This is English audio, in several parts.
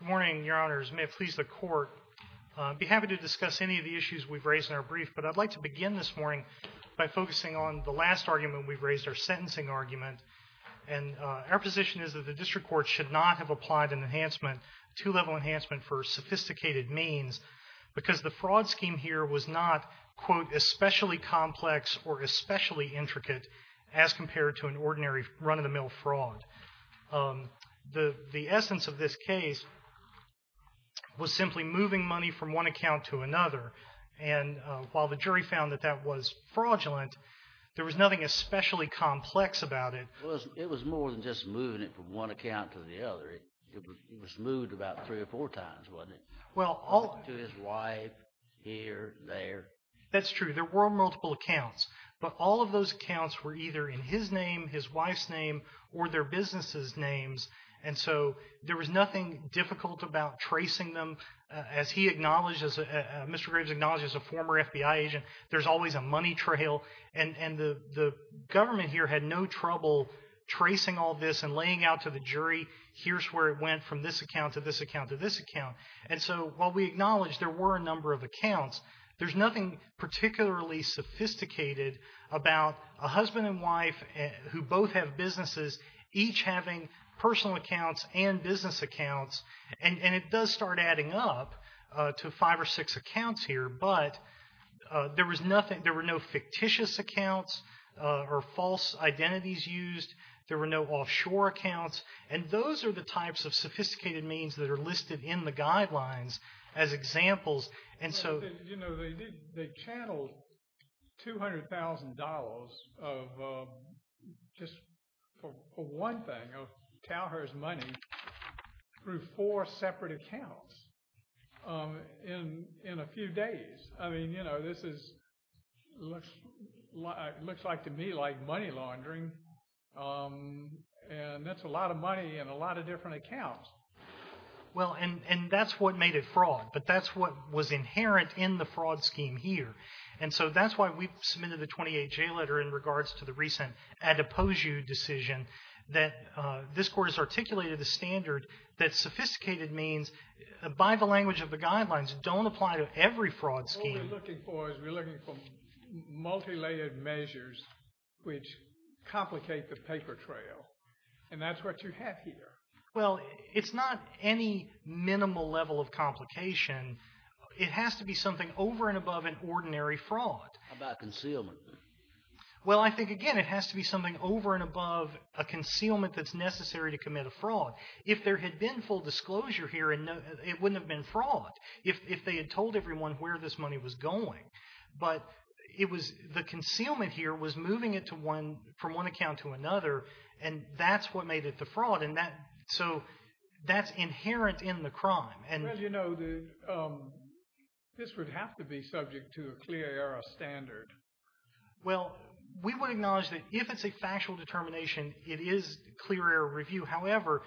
Good morning, your honors. May it please the court, I'd be happy to discuss any of the issues we've raised in our brief, but I'd like to begin this morning by focusing on the last argument we've raised, our sentencing argument, and our position is that the district court should not have applied an enhancement, a two-level enhancement for sophisticated means, because the fraud scheme here was not, quote, especially complex or especially intricate as compared to an ordinary run-of-the-mill fraud. The essence of this case was simply moving money from one account to another. And while the jury found that that was fraudulent, there was nothing especially complex about it. It was more than just moving it from one account to the other. It was moved about three or four times, wasn't it? To his wife, here, there. That's true. There were multiple accounts, but all of those accounts were either in his name, his wife's name, or their businesses' names, and so there was nothing difficult about tracing them. As he acknowledged, as Mr. Graves acknowledged as a former FBI agent, there's always a money trail, and the government here had no trouble tracing all this and laying out to the jury, here's where it went from this account to this account to this account. And so, while we acknowledge there were a number of accounts, there's nothing particularly sophisticated about a husband and wife who both have businesses, each having personal accounts and business accounts. And it does start adding up to five or six accounts here, but there was nothing, there were no fictitious accounts or false identities used. There were no offshore accounts. And those are the types of sophisticated means that are listed in the guidelines as examples. You know, they channeled $200,000 of, just for one thing, of Tauher's money through four separate accounts in a few days. I mean, you know, this is, looks like to me like money laundering, and that's a lot of money in a lot of different accounts. Well, and that's what made it fraud, but that's what was inherent in the fraud scheme here. And so, that's why we submitted the 28-J letter in regards to the recent Adepoju decision, that this Court has articulated the standard that sophisticated means, by the language of the guidelines, don't apply to every fraud scheme. What we're looking for is we're looking for multilayered measures which complicate the paper trail, and that's what you have here. Well, it's not any minimal level of complication. It has to be something over and above an ordinary fraud. How about concealment? Well, I think, again, it has to be something over and above a concealment that's necessary to commit a fraud. If there had been full disclosure here, it wouldn't have been fraud if they had told everyone where this money was going. But the concealment here was moving it from one account to another, and that's what made it the fraud. So, that's inherent in the crime. Well, you know, this would have to be subject to a clear error standard. Well, we would acknowledge that if it's a factual determination, it is clear error review. However,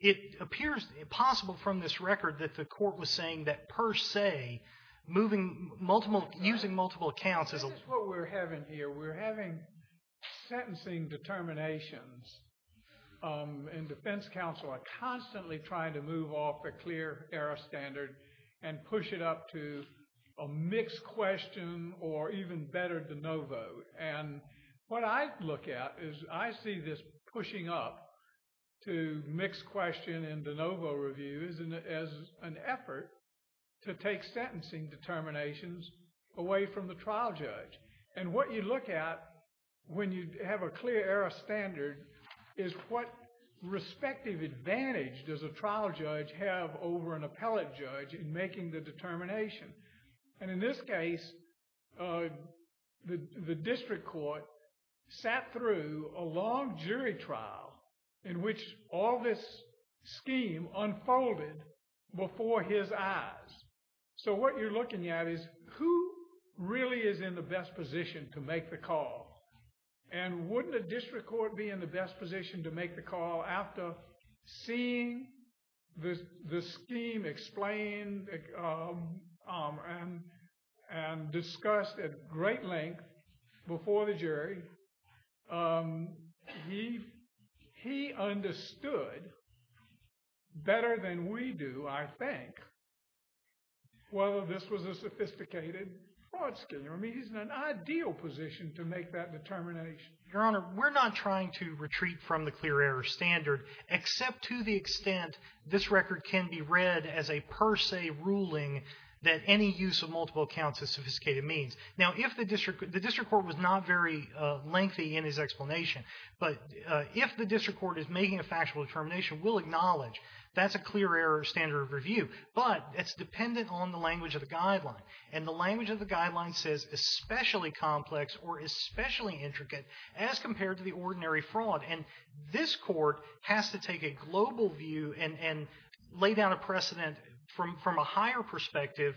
it appears possible from this record that the court was saying that per se, using multiple accounts as a— This is what we're having here. We're having sentencing determinations, and defense counsel are constantly trying to move off a clear error standard and push it up to a mixed question or even better, the no vote. And what I look at is I see this pushing up to mixed question and the no vote review as an effort to take sentencing determinations away from the trial judge. And what you look at when you have a clear error standard is what respective advantage does a trial judge have over an appellate judge in making the determination. And in this case, the district court sat through a long jury trial in which all this scheme unfolded before his eyes. So, what you're looking at is who really is in the best position to make the call? And wouldn't a district court be in the best position to make the call after seeing the scheme explained and discussed at great length before the jury? He understood better than we do, I think, whether this was a sophisticated fraud scheme. I mean, he's in an ideal position to make that determination. Your Honor, we're not trying to retreat from the clear error standard except to the extent this record can be read as a per se ruling that any use of multiple accounts is sophisticated means. Now, if the district court was not very lengthy in his explanation, but if the district court is making a factual determination, we'll acknowledge that's a clear error standard of review. But it's dependent on the language of the guideline. And the language of the guideline says especially complex or especially intricate as compared to the ordinary fraud. And this court has to take a global view and lay down a precedent from a higher perspective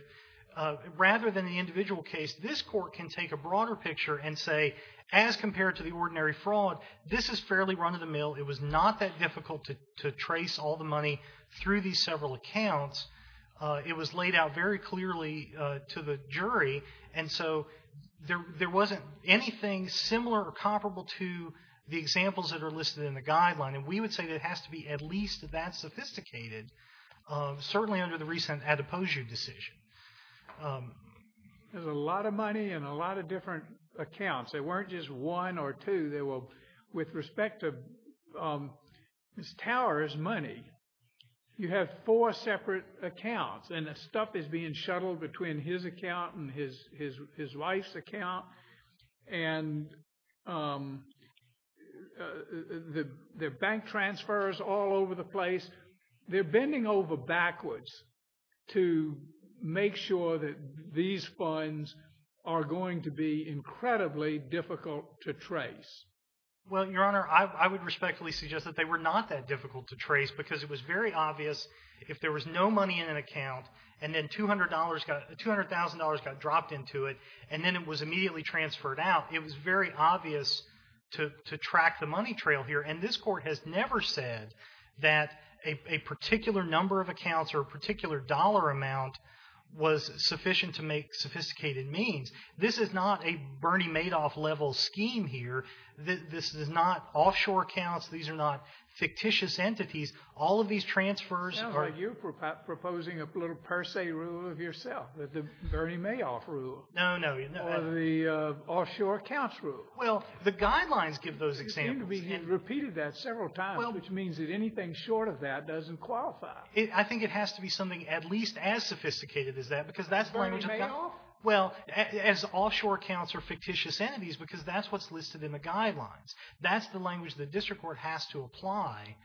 rather than the individual case. This court can take a broader picture and say as compared to the ordinary fraud, this is fairly run of the mill. It was not that difficult to trace all the money through these several accounts. It was laid out very clearly to the jury. And so there wasn't anything similar or comparable to the examples that are listed in the guideline. And we would say that it has to be at least that sophisticated, certainly under the recent Adepoju decision. There's a lot of money in a lot of different accounts. They weren't just one or two. With respect to Tower's money, you have four separate accounts. And that stuff is being shuttled between his account and his wife's account. And there are bank transfers all over the place. They're bending over backwards to make sure that these funds are going to be incredibly difficult to trace. Well, Your Honor, I would respectfully suggest that they were not that difficult to trace because it was very obvious. If there was no money in an account and then $200,000 got dropped into it and then it was immediately transferred out, it was very obvious to track the money trail here. And this court has never said that a particular number of accounts or a particular dollar amount was sufficient to make sophisticated means. This is not a Bernie Madoff level scheme here. This is not offshore accounts. These are not fictitious entities. All of these transfers are- It sounds like you're proposing a little per se rule of yourself, the Bernie Madoff rule. No, no. Or the offshore accounts rule. Well, the guidelines give those examples. It seems to me you've repeated that several times, which means that anything short of that doesn't qualify. I think it has to be something at least as sophisticated as that because that's the language- Bernie Madoff? Well, as offshore accounts or fictitious entities because that's what's listed in the guidelines. That's the language the district court has to apply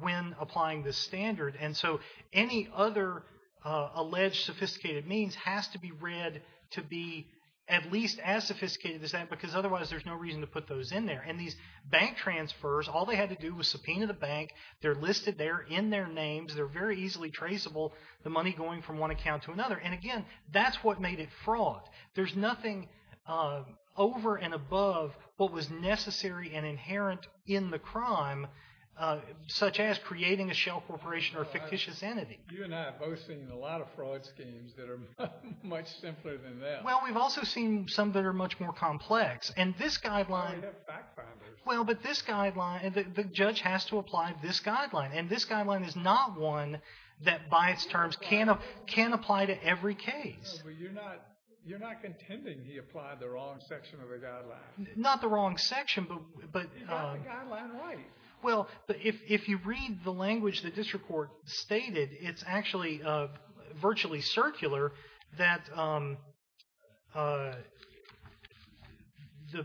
when applying this standard. And so any other alleged sophisticated means has to be read to be at least as sophisticated as that because otherwise there's no reason to put those in there. And these bank transfers, all they had to do was subpoena the bank. They're listed there in their names. They're very easily traceable, the money going from one account to another. And again, that's what made it fraught. There's nothing over and above what was necessary and inherent in the crime, such as creating a shell corporation or a fictitious entity. You and I have both seen a lot of fraud schemes that are much simpler than that. Well, we've also seen some that are much more complex. And this guideline- They have fact-finders. Well, but this guideline, the judge has to apply this guideline. And this guideline is not one that by its terms can apply to every case. No, but you're not contending he applied the wrong section of the guideline. Not the wrong section, but- He got the guideline right. Well, if you read the language the district court stated, it's actually virtually circular that the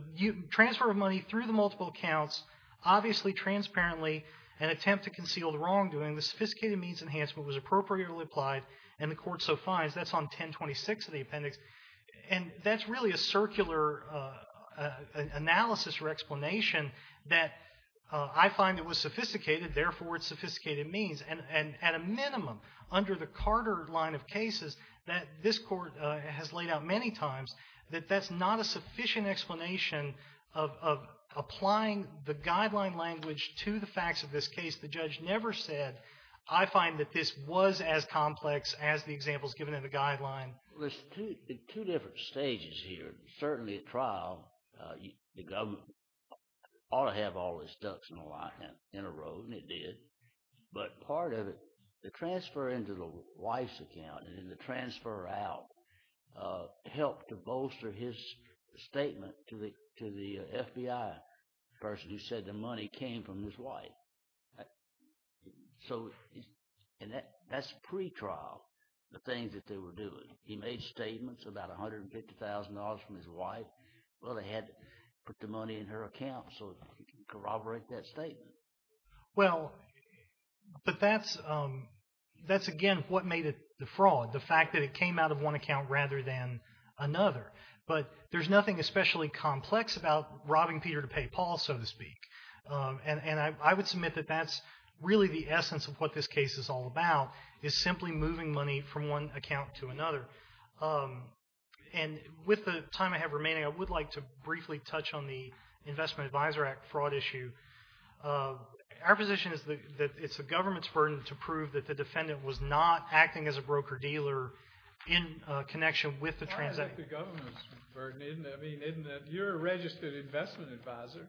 transfer of money through the multiple accounts, obviously transparently an attempt to conceal the wrongdoing, the sophisticated means enhancement was appropriately applied, and the court so finds that's on 1026 of the appendix. And that's really a circular analysis or explanation that I find it was sophisticated, therefore it's sophisticated means. And at a minimum, under the Carter line of cases that this court has laid out many times, that that's not a sufficient explanation of applying the guideline language to the facts of this case. The judge never said, I find that this was as complex as the examples given in the guideline. There's two different stages here. Certainly at trial, the government ought to have all its ducks in a row, and it did. But part of it, the transfer into the wife's account and the transfer out helped to bolster his statement to the FBI person who said the money came from his wife. And that's pre-trial, the things that they were doing. He made statements about $150,000 from his wife. Well, they had to put the money in her account so he could corroborate that statement. Well, but that's again what made it the fraud. The fact that it came out of one account rather than another. But there's nothing especially complex about robbing Peter to pay Paul, so to speak. And I would submit that that's really the essence of what this case is all about, is simply moving money from one account to another. And with the time I have remaining, I would like to briefly touch on the Investment Advisor Act fraud issue. Our position is that it's the government's burden to prove that the defendant was not acting as a broker-dealer in connection with the transaction. That's the government's burden, isn't it? You're a registered investment advisor,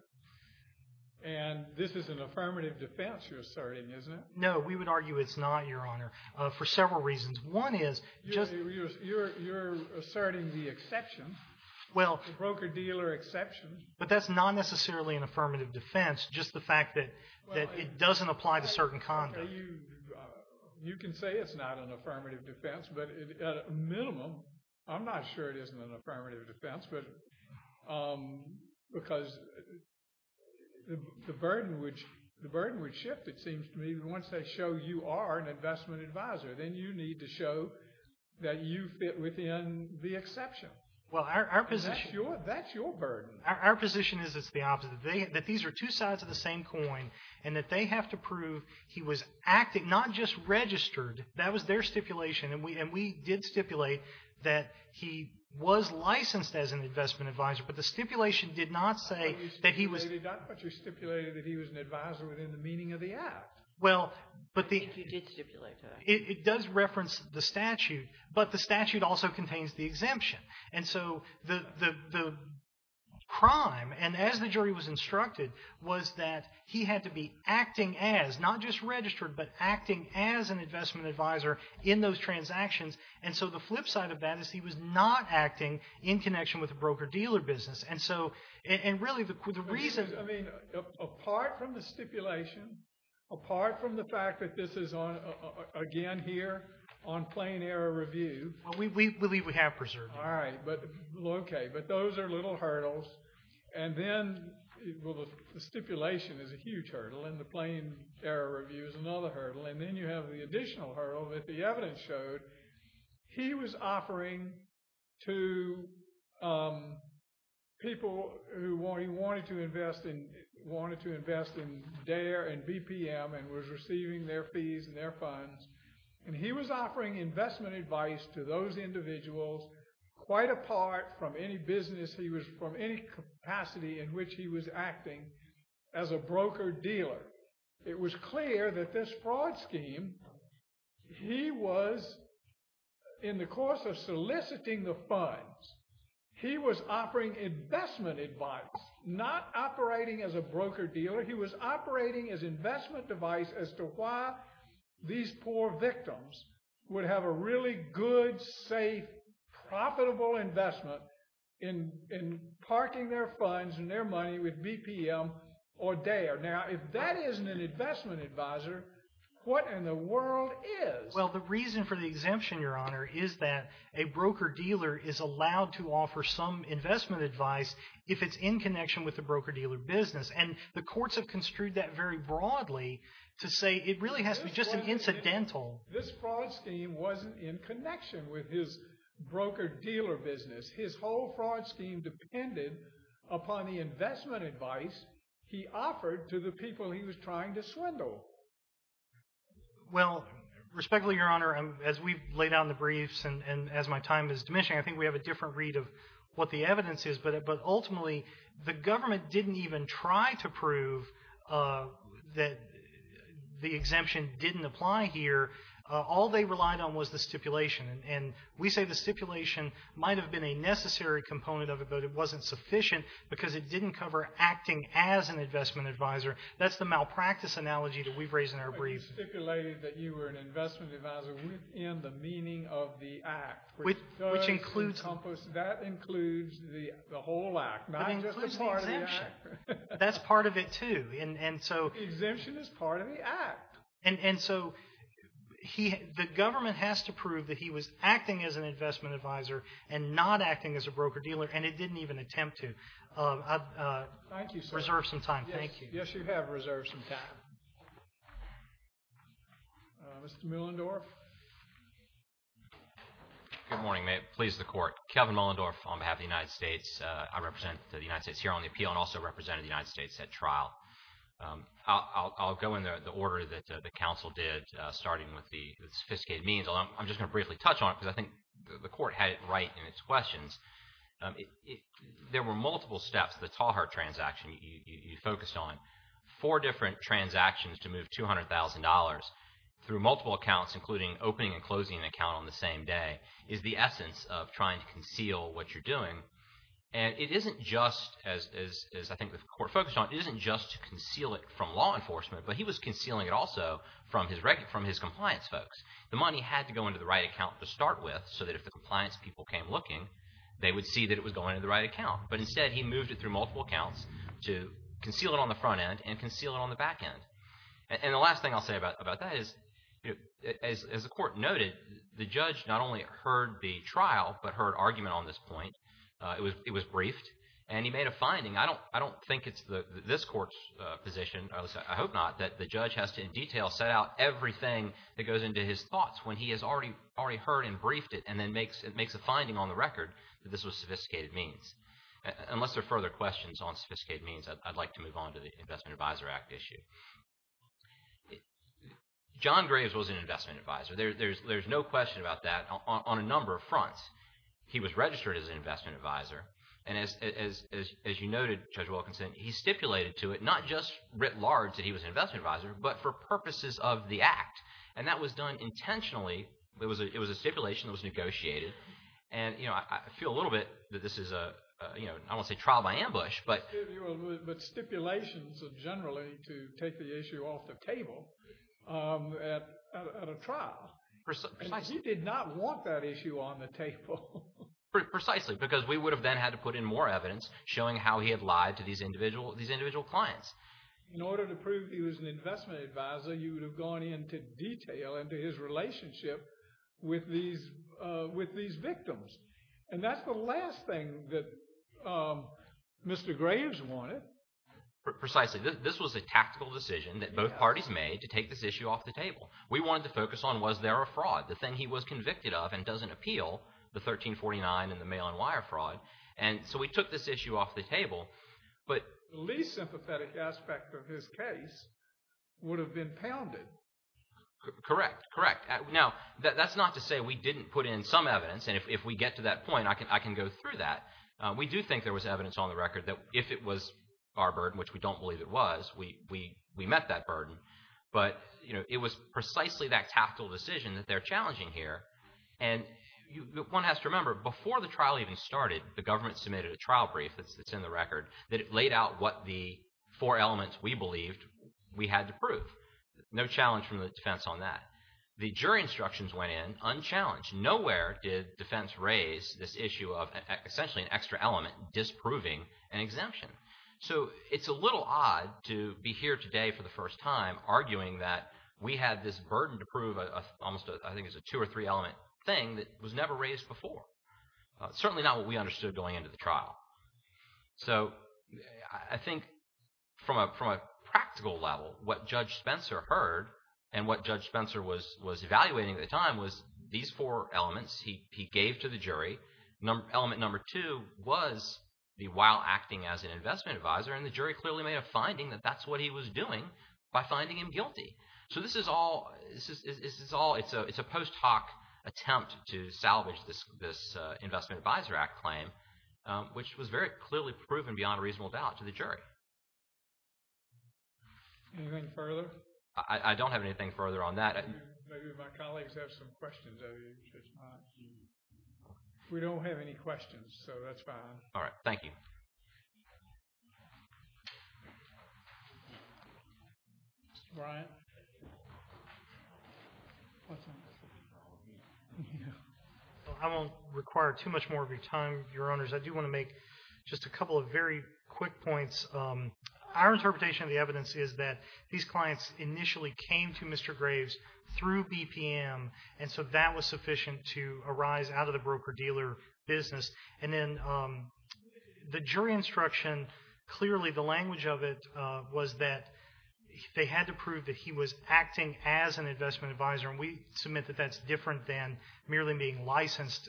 and this is an affirmative defense you're asserting, isn't it? No, we would argue it's not, Your Honor, for several reasons. One is just— You're asserting the exception, the broker-dealer exception. But that's not necessarily an affirmative defense, just the fact that it doesn't apply to certain conduct. You can say it's not an affirmative defense, but at a minimum, I'm not sure it isn't an affirmative defense, because the burden would shift, it seems to me, once they show you are an investment advisor. Then you need to show that you fit within the exception. Well, our position— That's your burden. Our position is it's the opposite, that these are two sides of the same coin, and that they have to prove he was acting, not just registered. That was their stipulation, and we did stipulate that he was licensed as an investment advisor, but the stipulation did not say that he was— I thought you stated that, but you stipulated that he was an advisor within the meaning of the act. Well, but the— I think you did stipulate that. It does reference the statute, but the statute also contains the exemption. And so the crime, and as the jury was instructed, was that he had to be acting as, not just registered, but acting as an investment advisor in those transactions. And so the flip side of that is he was not acting in connection with a broker-dealer business. And so, and really, the reason— I mean, apart from the stipulation, apart from the fact that this is, again, here on plain error review— Well, we believe we have preserved it. All right. Okay. But those are little hurdles. And then, well, the stipulation is a huge hurdle, and the plain error review is another hurdle. And then you have the additional hurdle that the evidence showed. He was offering to people who he wanted to invest in, wanted to invest in DARE and BPM and was receiving their fees and their funds. And he was offering investment advice to those individuals quite apart from any business. He was from any capacity in which he was acting as a broker-dealer. It was clear that this fraud scheme, he was, in the course of soliciting the funds, he was offering investment advice, not operating as a broker-dealer. He was operating as investment advice as to why these poor victims would have a really good, safe, profitable investment in parking their funds and their money with BPM or DARE. Now, if that isn't an investment advisor, what in the world is? Well, the reason for the exemption, Your Honor, is that a broker-dealer is allowed to offer some investment advice if it's in connection with the broker-dealer business. And the courts have construed that very broadly to say it really has to be just an incidental. This fraud scheme wasn't in connection with his broker-dealer business. His whole fraud scheme depended upon the investment advice he offered to the people he was trying to swindle. Well, respectfully, Your Honor, as we've laid out in the briefs and as my time is diminishing, I think we have a different read of what the evidence is. But ultimately, the government didn't even try to prove that the exemption didn't apply here. All they relied on was the stipulation. And we say the stipulation might have been a necessary component of it, but it wasn't sufficient because it didn't cover acting as an investment advisor. That's the malpractice analogy that we've raised in our briefs. But you stipulated that you were an investment advisor within the meaning of the act. Which includes... The whole act, not just a part of the act. That's part of it, too. Exemption is part of the act. And so the government has to prove that he was acting as an investment advisor and not acting as a broker-dealer, and it didn't even attempt to. Thank you, sir. Reserve some time, thank you. Yes, you have reserved some time. Mr. Muellendorf? Good morning. May it please the Court. Kevin Muellendorf on behalf of the United States. I represent the United States here on the appeal and also represented the United States at trial. I'll go in the order that the counsel did, starting with the sophisticated means. I'm just going to briefly touch on it because I think the Court had it right in its questions. There were multiple steps. The Talhart transaction you focused on. Four different transactions to move $200,000 through multiple accounts, including opening and closing an account on the same day, is the essence of trying to conceal what you're doing. And it isn't just, as I think the Court focused on, it isn't just to conceal it from law enforcement, but he was concealing it also from his compliance folks. The money had to go into the right account to start with so that if the compliance people came looking, they would see that it was going into the right account. But instead, he moved it through multiple accounts to conceal it on the front end and conceal it on the back end. And the last thing I'll say about that is, as the Court noted, the judge not only heard the trial but heard argument on this point. It was briefed and he made a finding. I don't think it's this Court's position, at least I hope not, that the judge has to in detail set out everything that goes into his thoughts when he has already heard and briefed it and then makes a finding on the record that this was sophisticated means. Unless there are further questions on sophisticated means, I'd like to move on to the Investment Advisor Act issue. John Graves was an investment advisor. There's no question about that on a number of fronts. He was registered as an investment advisor. And as you noted, Judge Wilkinson, he stipulated to it, not just writ large that he was an investment advisor, but for purposes of the Act. And that was done intentionally. It was a stipulation that was negotiated. And I feel a little bit that this is a, I don't want to say trial by ambush, but… But stipulations generally to take the issue off the table at a trial. And he did not want that issue on the table. Precisely, because we would have then had to put in more evidence showing how he had lied to these individual clients. In order to prove he was an investment advisor, you would have gone into detail into his relationship with these victims. And that's the last thing that Mr. Graves wanted. Precisely. This was a tactical decision that both parties made to take this issue off the table. We wanted to focus on was there a fraud. The thing he was convicted of and doesn't appeal, the 1349 and the mail-on-wire fraud. And so we took this issue off the table, but… The least sympathetic aspect of his case would have been pounded. Correct, correct. Now, that's not to say we didn't put in some evidence. And if we get to that point, I can go through that. We do think there was evidence on the record that if it was our burden, which we don't believe it was, we met that burden. But it was precisely that tactical decision that they're challenging here. And one has to remember, before the trial even started, the government submitted a trial brief that's in the record that laid out what the four elements we believed we had to prove. No challenge from the defense on that. The jury instructions went in unchallenged. Nowhere did defense raise this issue of essentially an extra element disproving an exemption. So it's a little odd to be here today for the first time arguing that we had this burden to prove almost I think it's a two or three element thing that was never raised before. Certainly not what we understood going into the trial. So I think from a practical level, what Judge Spencer heard and what Judge Spencer was evaluating at the time was these four elements he gave to the jury. Element number two was the while acting as an investment advisor, and the jury clearly made a finding that that's what he was doing by finding him guilty. So this is all, it's a post hoc attempt to salvage this Investment Advisor Act claim, which was very clearly proven beyond a reasonable doubt to the jury. Anything further? I don't have anything further on that. Maybe my colleagues have some questions of you. We don't have any questions, so that's fine. All right. Thank you. I won't require too much more of your time, Your Honors. I do want to make just a couple of very quick points. Our interpretation of the evidence is that these clients initially came to Mr. Graves through BPM, and so that was sufficient to arise out of the broker-dealer business. And then the jury instruction, clearly the language of it was that they had to prove that he was acting as an investment advisor, and we submit that that's different than merely being licensed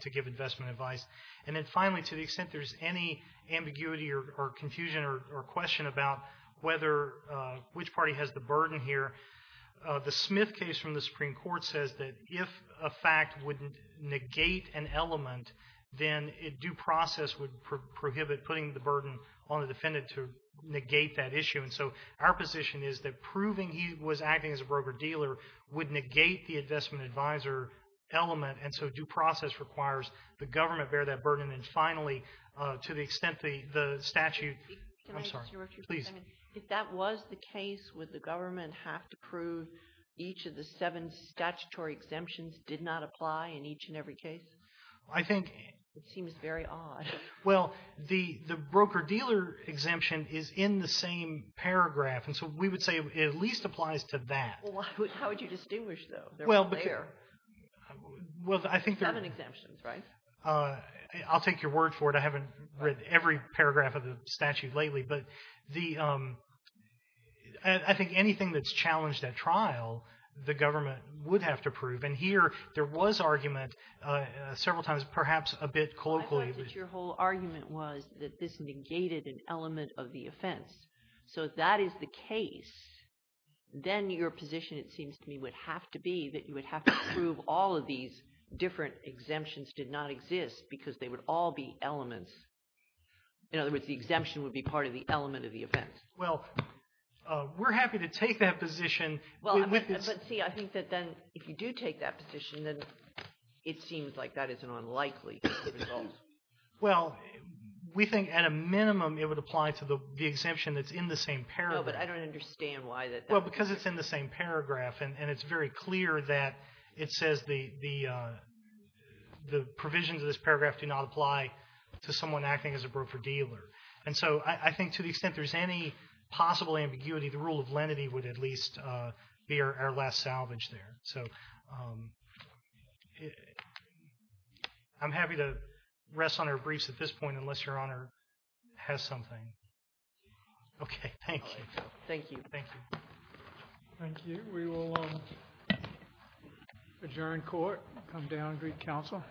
to give investment advice. And then finally, to the extent there's any ambiguity or confusion or question about whether, which party has the burden here, the Smith case from the Supreme Court says that if a fact would negate an element, then due process would prohibit putting the burden on the defendant to negate that issue. And so our position is that proving he was acting as a broker-dealer would negate the investment advisor element, and so due process requires the government bear that burden. And finally, to the extent the statute, I'm sorry. Please. If that was the case, would the government have to prove each of the seven statutory exemptions did not apply in each and every case? I think. It seems very odd. Well, the broker-dealer exemption is in the same paragraph, and so we would say it at least applies to that. How would you distinguish, though? Well, I think. Seven exemptions, right? I'll take your word for it. I haven't read every paragraph of the statute lately, but I think anything that's challenged at trial, the government would have to prove. And here there was argument several times, perhaps a bit colloquially. I thought that your whole argument was that this negated an element of the offense. So if that is the case, then your position, it seems to me, would have to be that you would have to prove all of these different exemptions did not exist because they would all be elements. In other words, the exemption would be part of the element of the offense. Well, we're happy to take that position. Well, but see, I think that then if you do take that position, then it seems like that is an unlikely result. Well, we think at a minimum it would apply to the exemption that's in the same paragraph. No, but I don't understand why that. Well, because it's in the same paragraph, and it's very clear that it says the provisions of this paragraph do not apply to someone acting as a broker-dealer. And so I think to the extent there's any possible ambiguity, the rule of lenity would at least be our last salvage there. So I'm happy to rest on our briefs at this point unless Your Honor has something. Okay. Thank you. Thank you. Thank you. Thank you. We will adjourn court, come down and greet counsel.